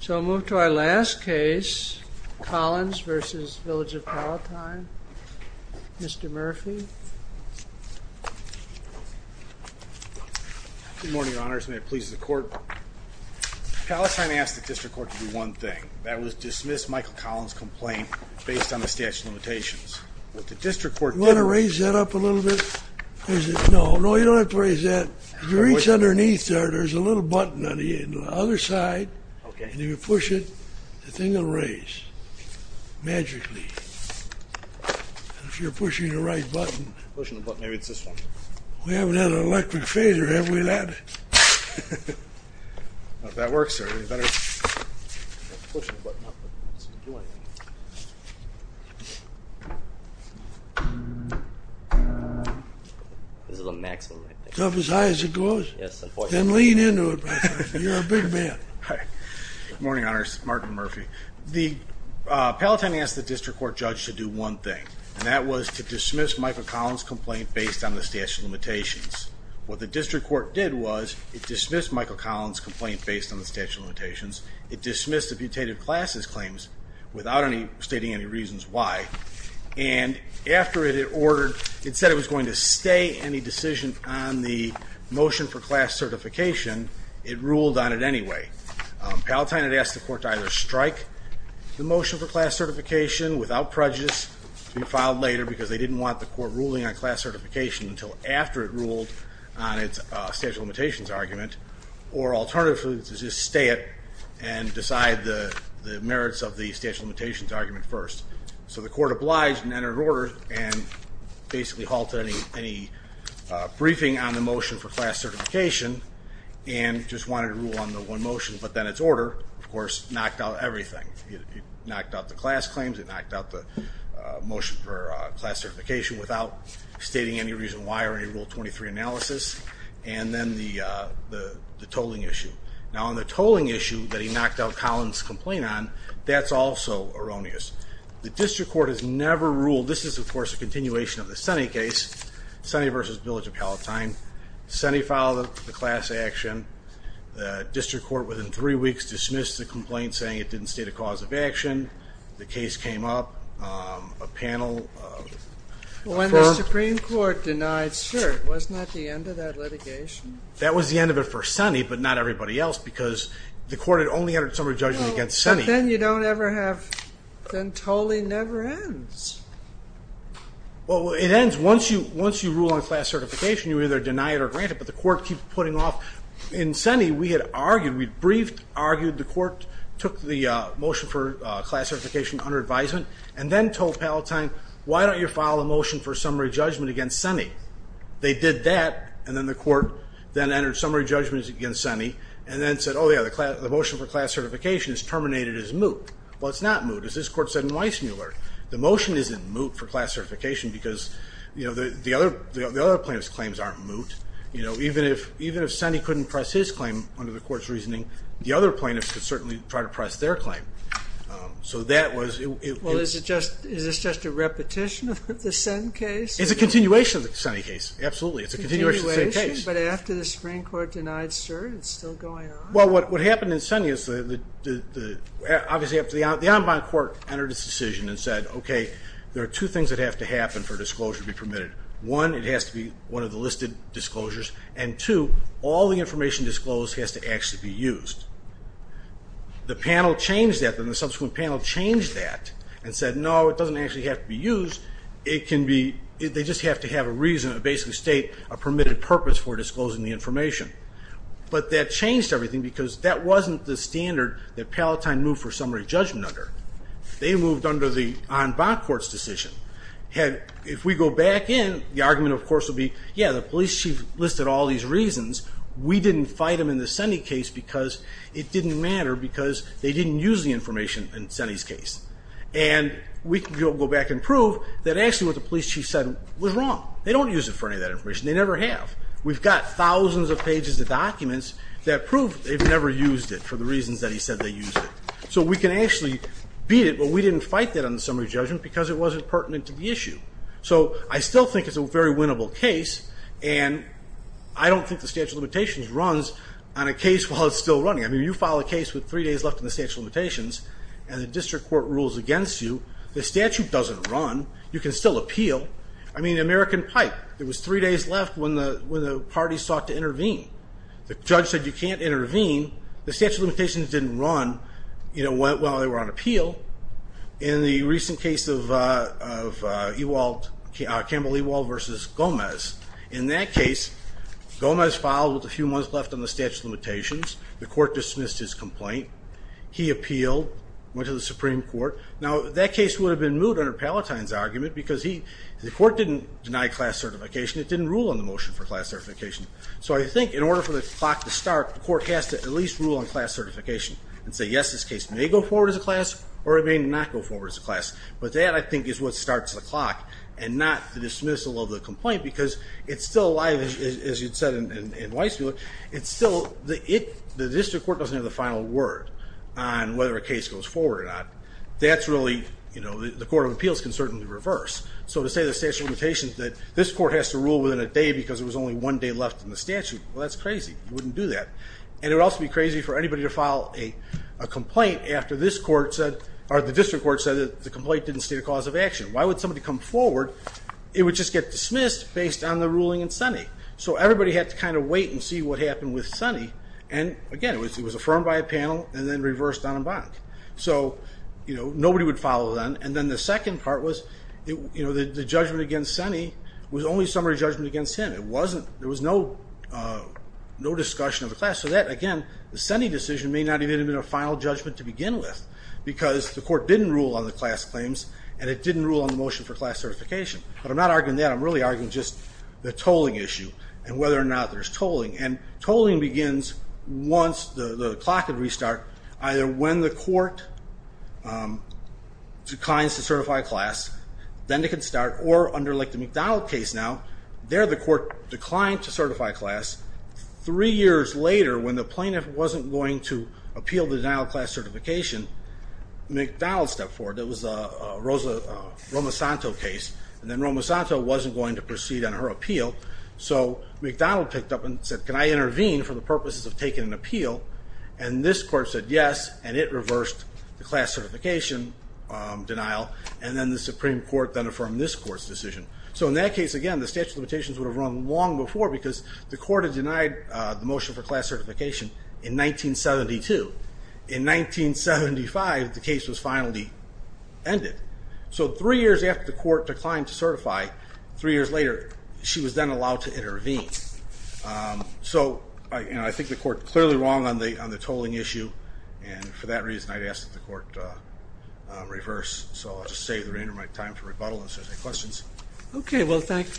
So I'll move to our last case Collins v. Village of Palatine. Mr. Murphy Good morning, Your Honors. May it please the court? Palatine asked the District Court to do one thing. That was dismiss Michael Collins complaint based on the statute of limitations. What the District Court did... You want to raise that up a little bit? No, no, you don't have to raise that. If you reach underneath there, there's a little button on the other side. And if you push it, the thing will raise. Magically. If you're pushing the right button. Maybe it's this one. We haven't had an electric fader, have we, lad? That works, sir. This is the maximum. It's up as high as it goes? Yes. Then lean into it. You're a big man. Good morning, Your Honors. Martin Murphy. Palatine asked the District Court judge to do one thing, and that was to dismiss Michael Collins complaint based on the statute of limitations. What the District Court did was, it dismissed Michael Collins complaint based on the statute of limitations. It dismissed the putative classes claims without any stating any reasons why. And after it ordered, it said it was going to stay any decision on the motion for class certification. It ruled on it anyway. Palatine had asked the court to either strike the motion for class certification without prejudice, to be filed later, because they didn't want the court ruling on class certification until after it ruled on its statute of limitations argument, or alternatively, to just stay it and decide the merits of the statute of limitations argument first. So the court obliged and entered order and basically halted any briefing on the motion for class certification, and just wanted to rule on the one motion, but then its order, of course, knocked out everything. It knocked out the class claims. It knocked out the motion for class certification without stating any reason why or any Rule 23 analysis. And then the tolling issue. Now on the tolling issue that he knocked out Collins complaint on, that's also erroneous. The District Court has never ruled. This is, of course, a continuation of the Senate case, Senate v. Village of Palatine. Senate filed the class action. The District Court, within three weeks, dismissed the complaint saying it didn't state a cause of action. The case came up. A panel... When the Supreme Court denied cert, wasn't that the end of that litigation? That was the end of it for Senate, but not everybody else, because the court had only entered summary judgment against Senate. Then you don't ever have... Then tolling never ends. Well, it ends once you rule on class certification. You either deny it or grant it, but the court keeps putting off... In Senate, we had argued, we'd briefed, argued. The court took the motion for class certification under advisement, and then told Palatine, why don't you file a motion for summary judgment against Senate? They did that, and then the court then entered summary judgments against Senate, and then said, oh, yeah, the motion for class certification is terminated as moot. Well, it's not moot, as this court said in Weissmuller. The motion isn't moot for class certification because, you know, the other plaintiff's claims aren't moot. You know, even if Senny couldn't press his claim under the court's reasoning, the other plaintiffs could certainly try to press their claim. So that was... Well, is this just a repetition of the Senn case? It's a continuation of the Senn case, absolutely. It's a continuation of the Senn case. But after the Supreme Court denied cert, it's still going on. Well, what happened in Senn is... Obviously, the en banc court entered its decision and said, okay, there are two things that have to happen for disclosure to be permitted. One, it has to be one of the listed disclosures, and two, all the information disclosed has to actually be used. The panel changed that, then the subsequent panel changed that, and said, no, it doesn't actually have to be used. It can be... They just have to have a reason, a basic state, a permitted purpose for disclosing the information. But that changed everything because that wasn't the standard that Palatine moved for summary judgment under. They moved under the en banc court's decision. Had... If we go back in, the argument, of course, would be, yeah, the police chief listed all these reasons. We didn't fight them in the Senny case because it didn't matter because they didn't use the information in Senny's case. And we can go back and prove that actually what the police chief said was wrong. They don't use it for any of that information. They never have. We've got thousands of pages of documents that prove they've never used it for the reasons that he said they used it. So we can actually beat it, but we didn't fight that on the summary judgment because it wasn't pertinent to the issue. So I still think it's a very winnable case, and I don't think the statute of limitations runs on a case while it's still running. I mean, you file a case with three days left in the statute of limitations, and the district court rules against you. The statute doesn't run. You can still appeal. I mean, American Pipe. There was three days left when the party sought to intervene. The judge said you can't intervene. The statute of limitations didn't run while they were on appeal. In the recent case of Campbell Ewald versus Gomez, in that case, Gomez filed with a few months left on the statute of limitations. The court dismissed his complaint. He appealed, went to the Supreme Court. Now, that case would have been moved under Palatine's argument because the court didn't deny class certification. It didn't rule on the motion for class certification. So I think in order for the clock to start, the court has to at least rule on class certification and say, yes, this case may go forward as a class or it may not go forward as a class. But that, I think, is what starts the clock and not the dismissal of the complaint because it's still alive, as you said in Weiss, it's still, the district court doesn't have the final word on whether a case goes forward or not. That's really, you know, the Court of Appeals can certainly reverse. So to say the statute of limitations that this court has to rule within a day because it was only one day left in the statute, well, that's crazy. You wouldn't do that. And it would also be crazy for anybody to file a complaint after this court said, or the district court said that the complaint didn't state a cause of action. Why would somebody come forward? It would just get dismissed based on the ruling in Sunny. So everybody had to kind of wait and see what happened with Sunny. And again, it was affirmed by a panel and then reversed en banc. So, you know, nobody would follow then. And then the second part was, you know, the judgment against Sunny was only summary judgment against him. It wasn't, there was no discussion of the class. So that, again, the Sunny decision may not even have been a final judgment to begin with because the court didn't rule on the class claims and it didn't rule on the motion for class certification. But I'm not arguing that. I'm really arguing just the tolling issue and whether or not there's tolling. And tolling begins once the clock can restart, either when the court declines to certify class, then it can start, or under like the McDonald case now, there the court declined to certify class. Three years later, when the plaintiff wasn't going to appeal the denial of class certification, McDonald stepped forward. It was a Rosa Romasanto case, and then Romasanto wasn't going to proceed on her appeal. So McDonald picked up and said, can I intervene for the purposes of taking an appeal? And this court said yes, and it reversed the class certification denial, and then the Supreme Court then affirmed this court's decision. So in that case, again, the statute of limitations would have run long before because the court had denied the motion for class certification in 1975, the case was finally ended. So three years after the court declined to certify, three years later, she was then allowed to intervene. So I think the court's clearly wrong on the tolling issue, and for that reason I'd ask that the court reverse. So I'll just save the remainder of my time for rebuttal if there's any questions. Okay, well, thank you.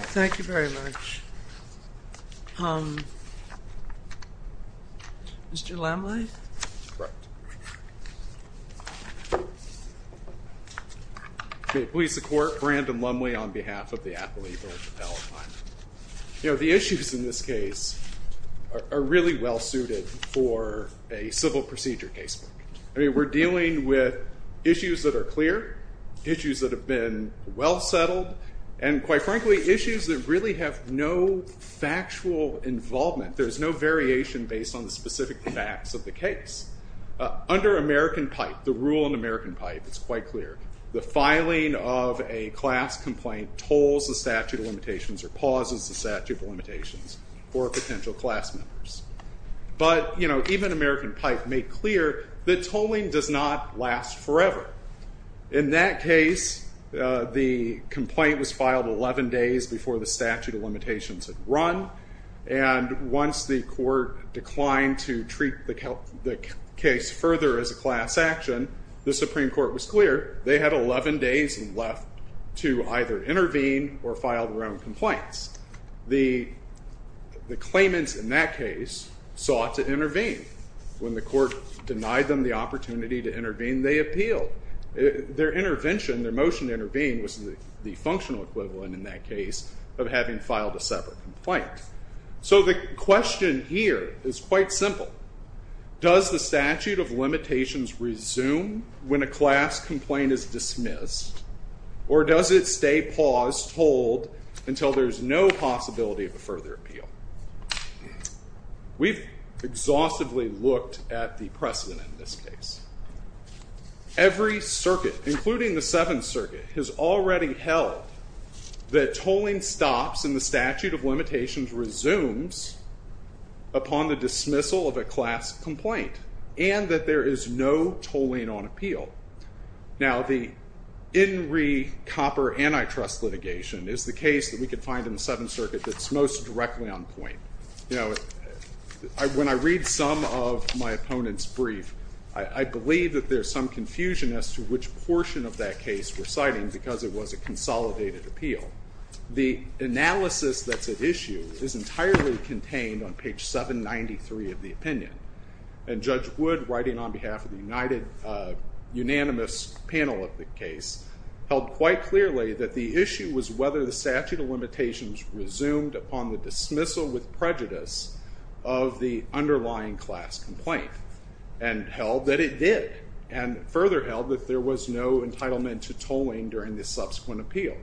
Thank you very much. Mr. Lamley? May it please the court, Brandon Lamley on behalf of the Atholete Court of Appellate Finance. You know, the issues in this case are really well suited for a civil procedure case. I mean, we're dealing with issues that are clear, issues that have been well settled, and quite frankly, issues that really have no factual involvement. There's no variation based on the specific facts of the case. Under American Pipe, the rule in American Pipe, it's quite clear, the filing of a class complaint tolls the statute of limitations or pauses the statute of limitations for potential class members. But, you know, even American Pipe made clear that tolling does not last forever. In that case, the complaint was filed 11 days before the statute of limitations had run, and once the court declined to treat the case further as a class action, the Supreme Court was clear. They had 11 days left to either intervene or file their own complaints. The claimants in that case sought to intervene. When the court denied them the opportunity to intervene, they appealed. Their intervention, their motion to intervene, was the functional equivalent in that case of having filed a separate complaint. So the question here is quite simple. Does the statute of limitations resume when a class complaint is dismissed, or does it stay paused, tolled, until there's no possibility of a further appeal? We've exhaustively looked at the precedent in this case. Every circuit, including the Seventh Circuit, has already held that tolling stops and the statute of limitations resumes upon the dismissal of a class complaint, and that there is no tolling on appeal. Now, the In Re Copper antitrust litigation is the case that we could find in the Seventh Circuit that's most directly on point. You know, when I read some of my opponents' brief, I believe that there's some confusion as to which portion of that case we're citing because it was a consolidated appeal. The analysis that's at issue is entirely contained on page 793 of the opinion, and Judge Wood, writing on behalf of the unanimous panel of the case, held quite clearly that the issue was whether the statute of limitations resumed upon the dismissal with prejudice of the underlying class complaint, and held that it did, and further held that there was no entitlement to tolling during the subsequent appeal.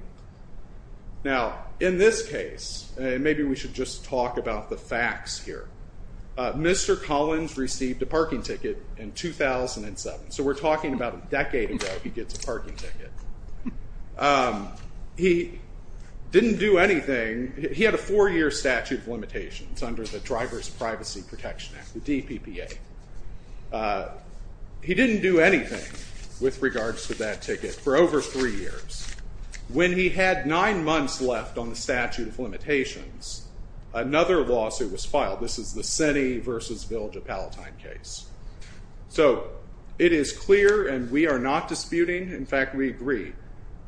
Now, in this case, and maybe we should just talk about the facts here, Mr. Collins received a parking ticket in 2007, so we're talking about a decade ago, he gets a parking ticket. He didn't do anything. He had a four-year statute of limitations under the Driver's Privacy Protection Act, the DPPA. He didn't do anything with regards to that ticket for over three years. When he had nine months left on the statute of limitations, another lawsuit was filed. This is the Senny v. Village of Palatine case. So, it is clear, and we are not disputing, in fact, we agree,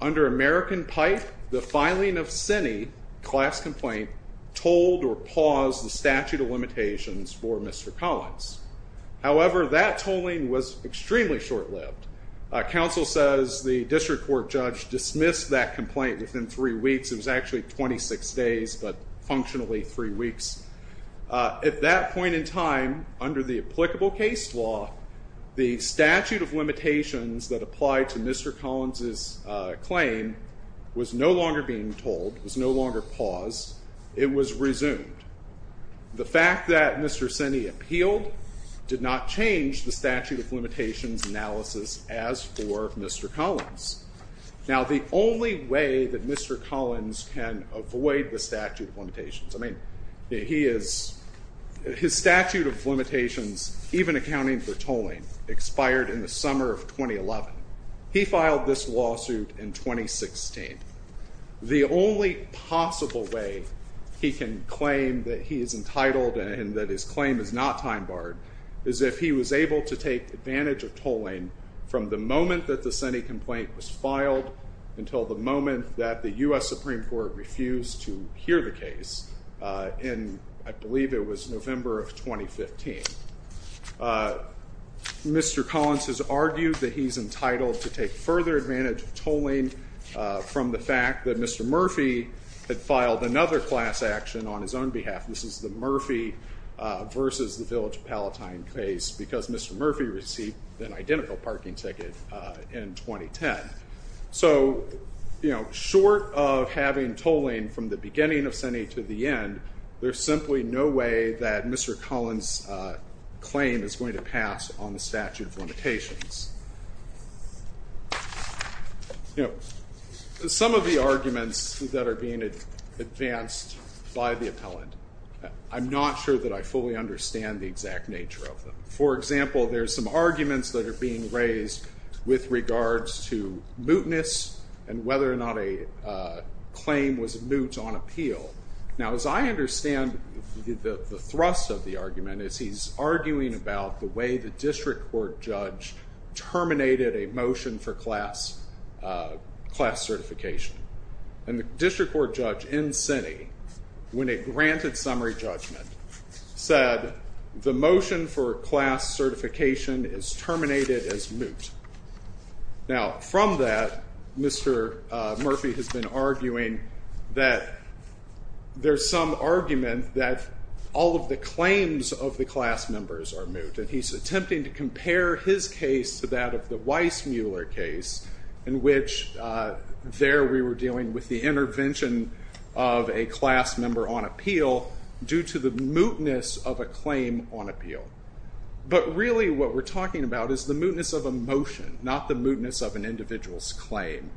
under American Pipe, the filing of Senny, class complaint, tolled or paused the statute of limitations for Mr. Collins. However, that tolling was extremely short-lived. Counsel says the district court judge dismissed that complaint within three weeks. It was actually 26 days, but functionally three weeks. At that point in time, under the applicable case law, the statute of limitations that applied to Mr. Collins' claim was no longer being tolled, was no longer paused. It was resumed. The fact that Mr. Senny appealed did not change the statute of limitations analysis as for Mr. Collins. Now, the only way that Mr. Collins can avoid the statute of limitations, I mean, he is, his statute of limitations, even accounting for tolling, expired in the summer of 2011. He filed this lawsuit in 2016. The only possible way he can claim that he is entitled and that his claim is not time-barred is if he was able to take advantage of tolling from the moment that the Senny complaint was filed until the moment that the U.S. Supreme Court refused to hear the case in, I believe it was November of 2015. Mr. Collins has argued that he's entitled to take further advantage of tolling from the fact that Mr. Murphy had filed another class action on his own behalf. This is the Murphy versus the Village Palatine case because Mr. Murphy received an identical parking ticket in 2010. So, you know, short of having tolling from the beginning of Senny to the end, there's simply no way that Mr. Collins' claim is going to pass on the statute of limitations. You know, some of the arguments that are being advanced by the appellant, I'm not sure that I fully understand the exact nature of them. For example, there's some arguments that are being raised with regards to mootness and whether or not a moot on appeal. Now, as I understand, the thrust of the argument is he's arguing about the way the district court judge terminated a motion for class certification. And the district court judge in Senny, when it granted summary judgment, said the motion for class certification is terminated as moot. Now, from that, Mr. Murphy has been arguing that there's some argument that all of the claims of the class members are moot. And he's attempting to compare his case to that of the Weissmuller case in which there we were dealing with the intervention of a class member on appeal due to the mootness of a claim on appeal. But really what we're talking about is the mootness of a motion, not the mootness of an individual's claim.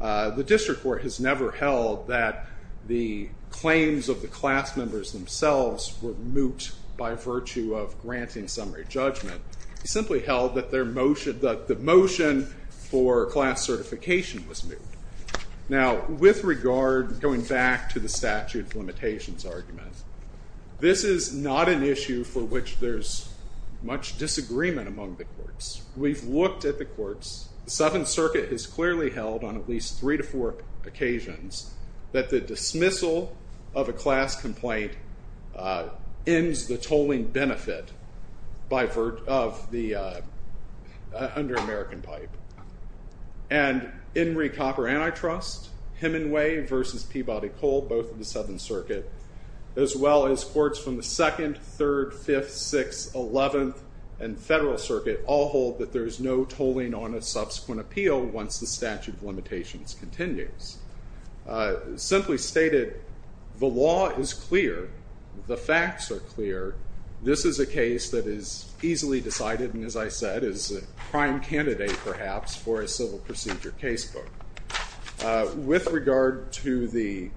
The district court has never held that the claims of the class members themselves were moot by virtue of granting summary judgment. He simply held that their motion, that the motion for class certification was moot. Now, with regard, going back to the statute of limitations argument, this is not an issue for which there's much disagreement among the courts. We've looked at the courts. The Seventh Circuit has clearly held on at least three to four occasions that the dismissal of a class complaint ends the tolling benefit by virtue of the under American pipe. And in recopper antitrust, Hemingway versus Peabody Cole, both of the Seventh Circuit, as well as courts from the Second, Third, Fifth, Sixth, Eleventh, and Federal Circuit, all hold that there is no tolling on a subsequent appeal once the statute of limitations continues. Simply stated, the law is clear. The facts are clear. This is a case that is easily decided, and as I said, is a prime candidate perhaps for a civil procedure case book. With regard to the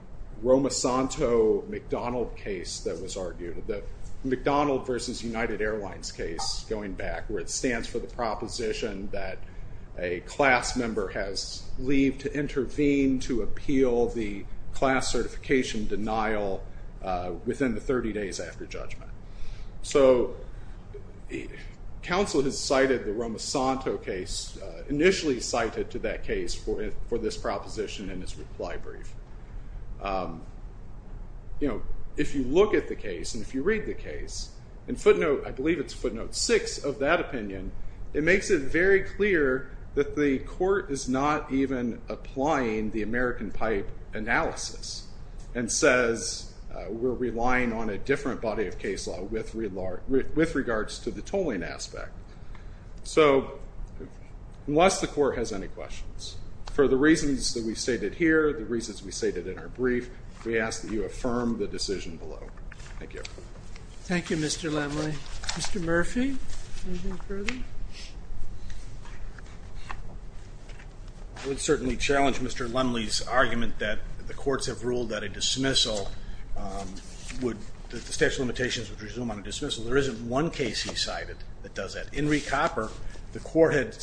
McDonald versus United Airlines case going back, where it stands for the proposition that a class member has leave to intervene to appeal the class certification denial within the 30 days after judgment. So, counsel has cited the Romasanto case, initially cited to that case for this proposition in his reply brief. You know, if you look at the case, and if you read the case, in footnote, I believe it's footnote six of that opinion, it makes it very clear that the court is not even applying the American pipe analysis and says we're relying on a different body of case law with regards to the tolling aspect. So, unless the court has any questions, for the reasons that we've stated here, the reasons we stated in our brief, we ask that you affirm the decision below. Thank you. Thank you, Mr. Lumley. Mr. Murphy? I would certainly challenge Mr. Lumley's argument that the courts have ruled that a dismissal would, that the statute of limitations would resume on a dismissal. There isn't one case he cited that does that. In re copper, the court had,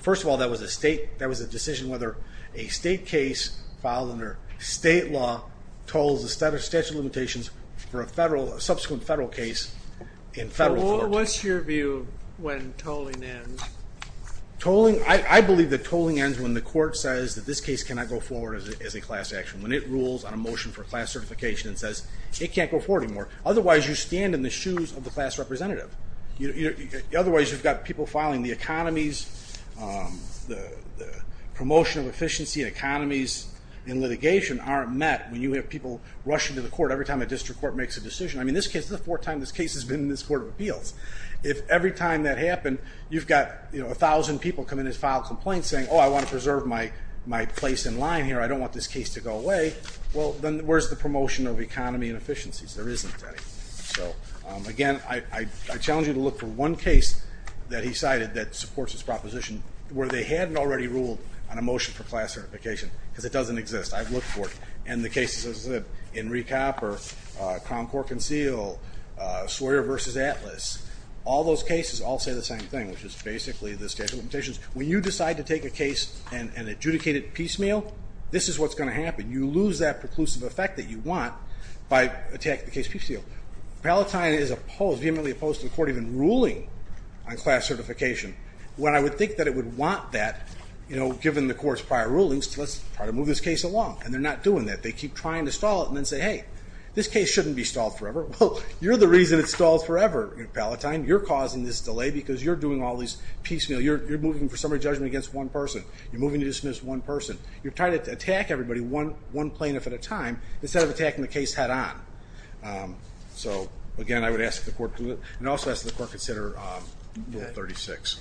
first of all, that was a state, that was a decision whether a state case filed under state law tolls the statute of limitations for a federal, a subsequent federal case in federal court. What's your view when tolling ends? Tolling, I believe that tolling ends when the court says that this case cannot go forward as a class action, when it rules on a motion for class certification and says it can't go forward anymore. Otherwise, you stand in the shoes of the class representative. Otherwise, you've got people filing the economies, the promotion of efficiency and economies in litigation aren't met when you have people rushing to the court every time a district court makes a decision. I mean, this case is the fourth time this case has been in this Court of Appeals. If every time that happened, you've got, you know, a thousand people come in and file a complaint saying, oh, I want to preserve my place in line here. I don't want this case to go away. Well, then where's the promotion of economy and efficiencies? There isn't any. So again, I challenge you to look for one case that he cited that supports his proposition where they hadn't already ruled on a motion for class certification because it doesn't exist. I've looked for it. And the cases, as I said, Enrique Hopper, Cronkore Conceal, Sawyer v. Atlas, all those cases all say the same thing, which is basically the statute of limitations. When you decide to take a case and adjudicate it piecemeal, this is what's going to happen. You lose that preclusive effect that you want by attacking the case piecemeal. Palatine is vehemently opposed to the court even ruling on class certification. When I would think that it would want that, you know, given the court's prior rulings, let's try to move this case along. And they're not doing that. They keep trying to stall it and then say, hey, this case shouldn't be stalled forever. Well, you're the reason it's stalled forever, Palatine. You're causing this delay because you're doing all these piecemeal. You're moving for summary judgment against one person. You're moving to dismiss one person. You're trying to attack everybody one plaintiff at a time instead of attacking the case head-on. So again, I would ask the court to do it and also ask the court to consider Bill 36.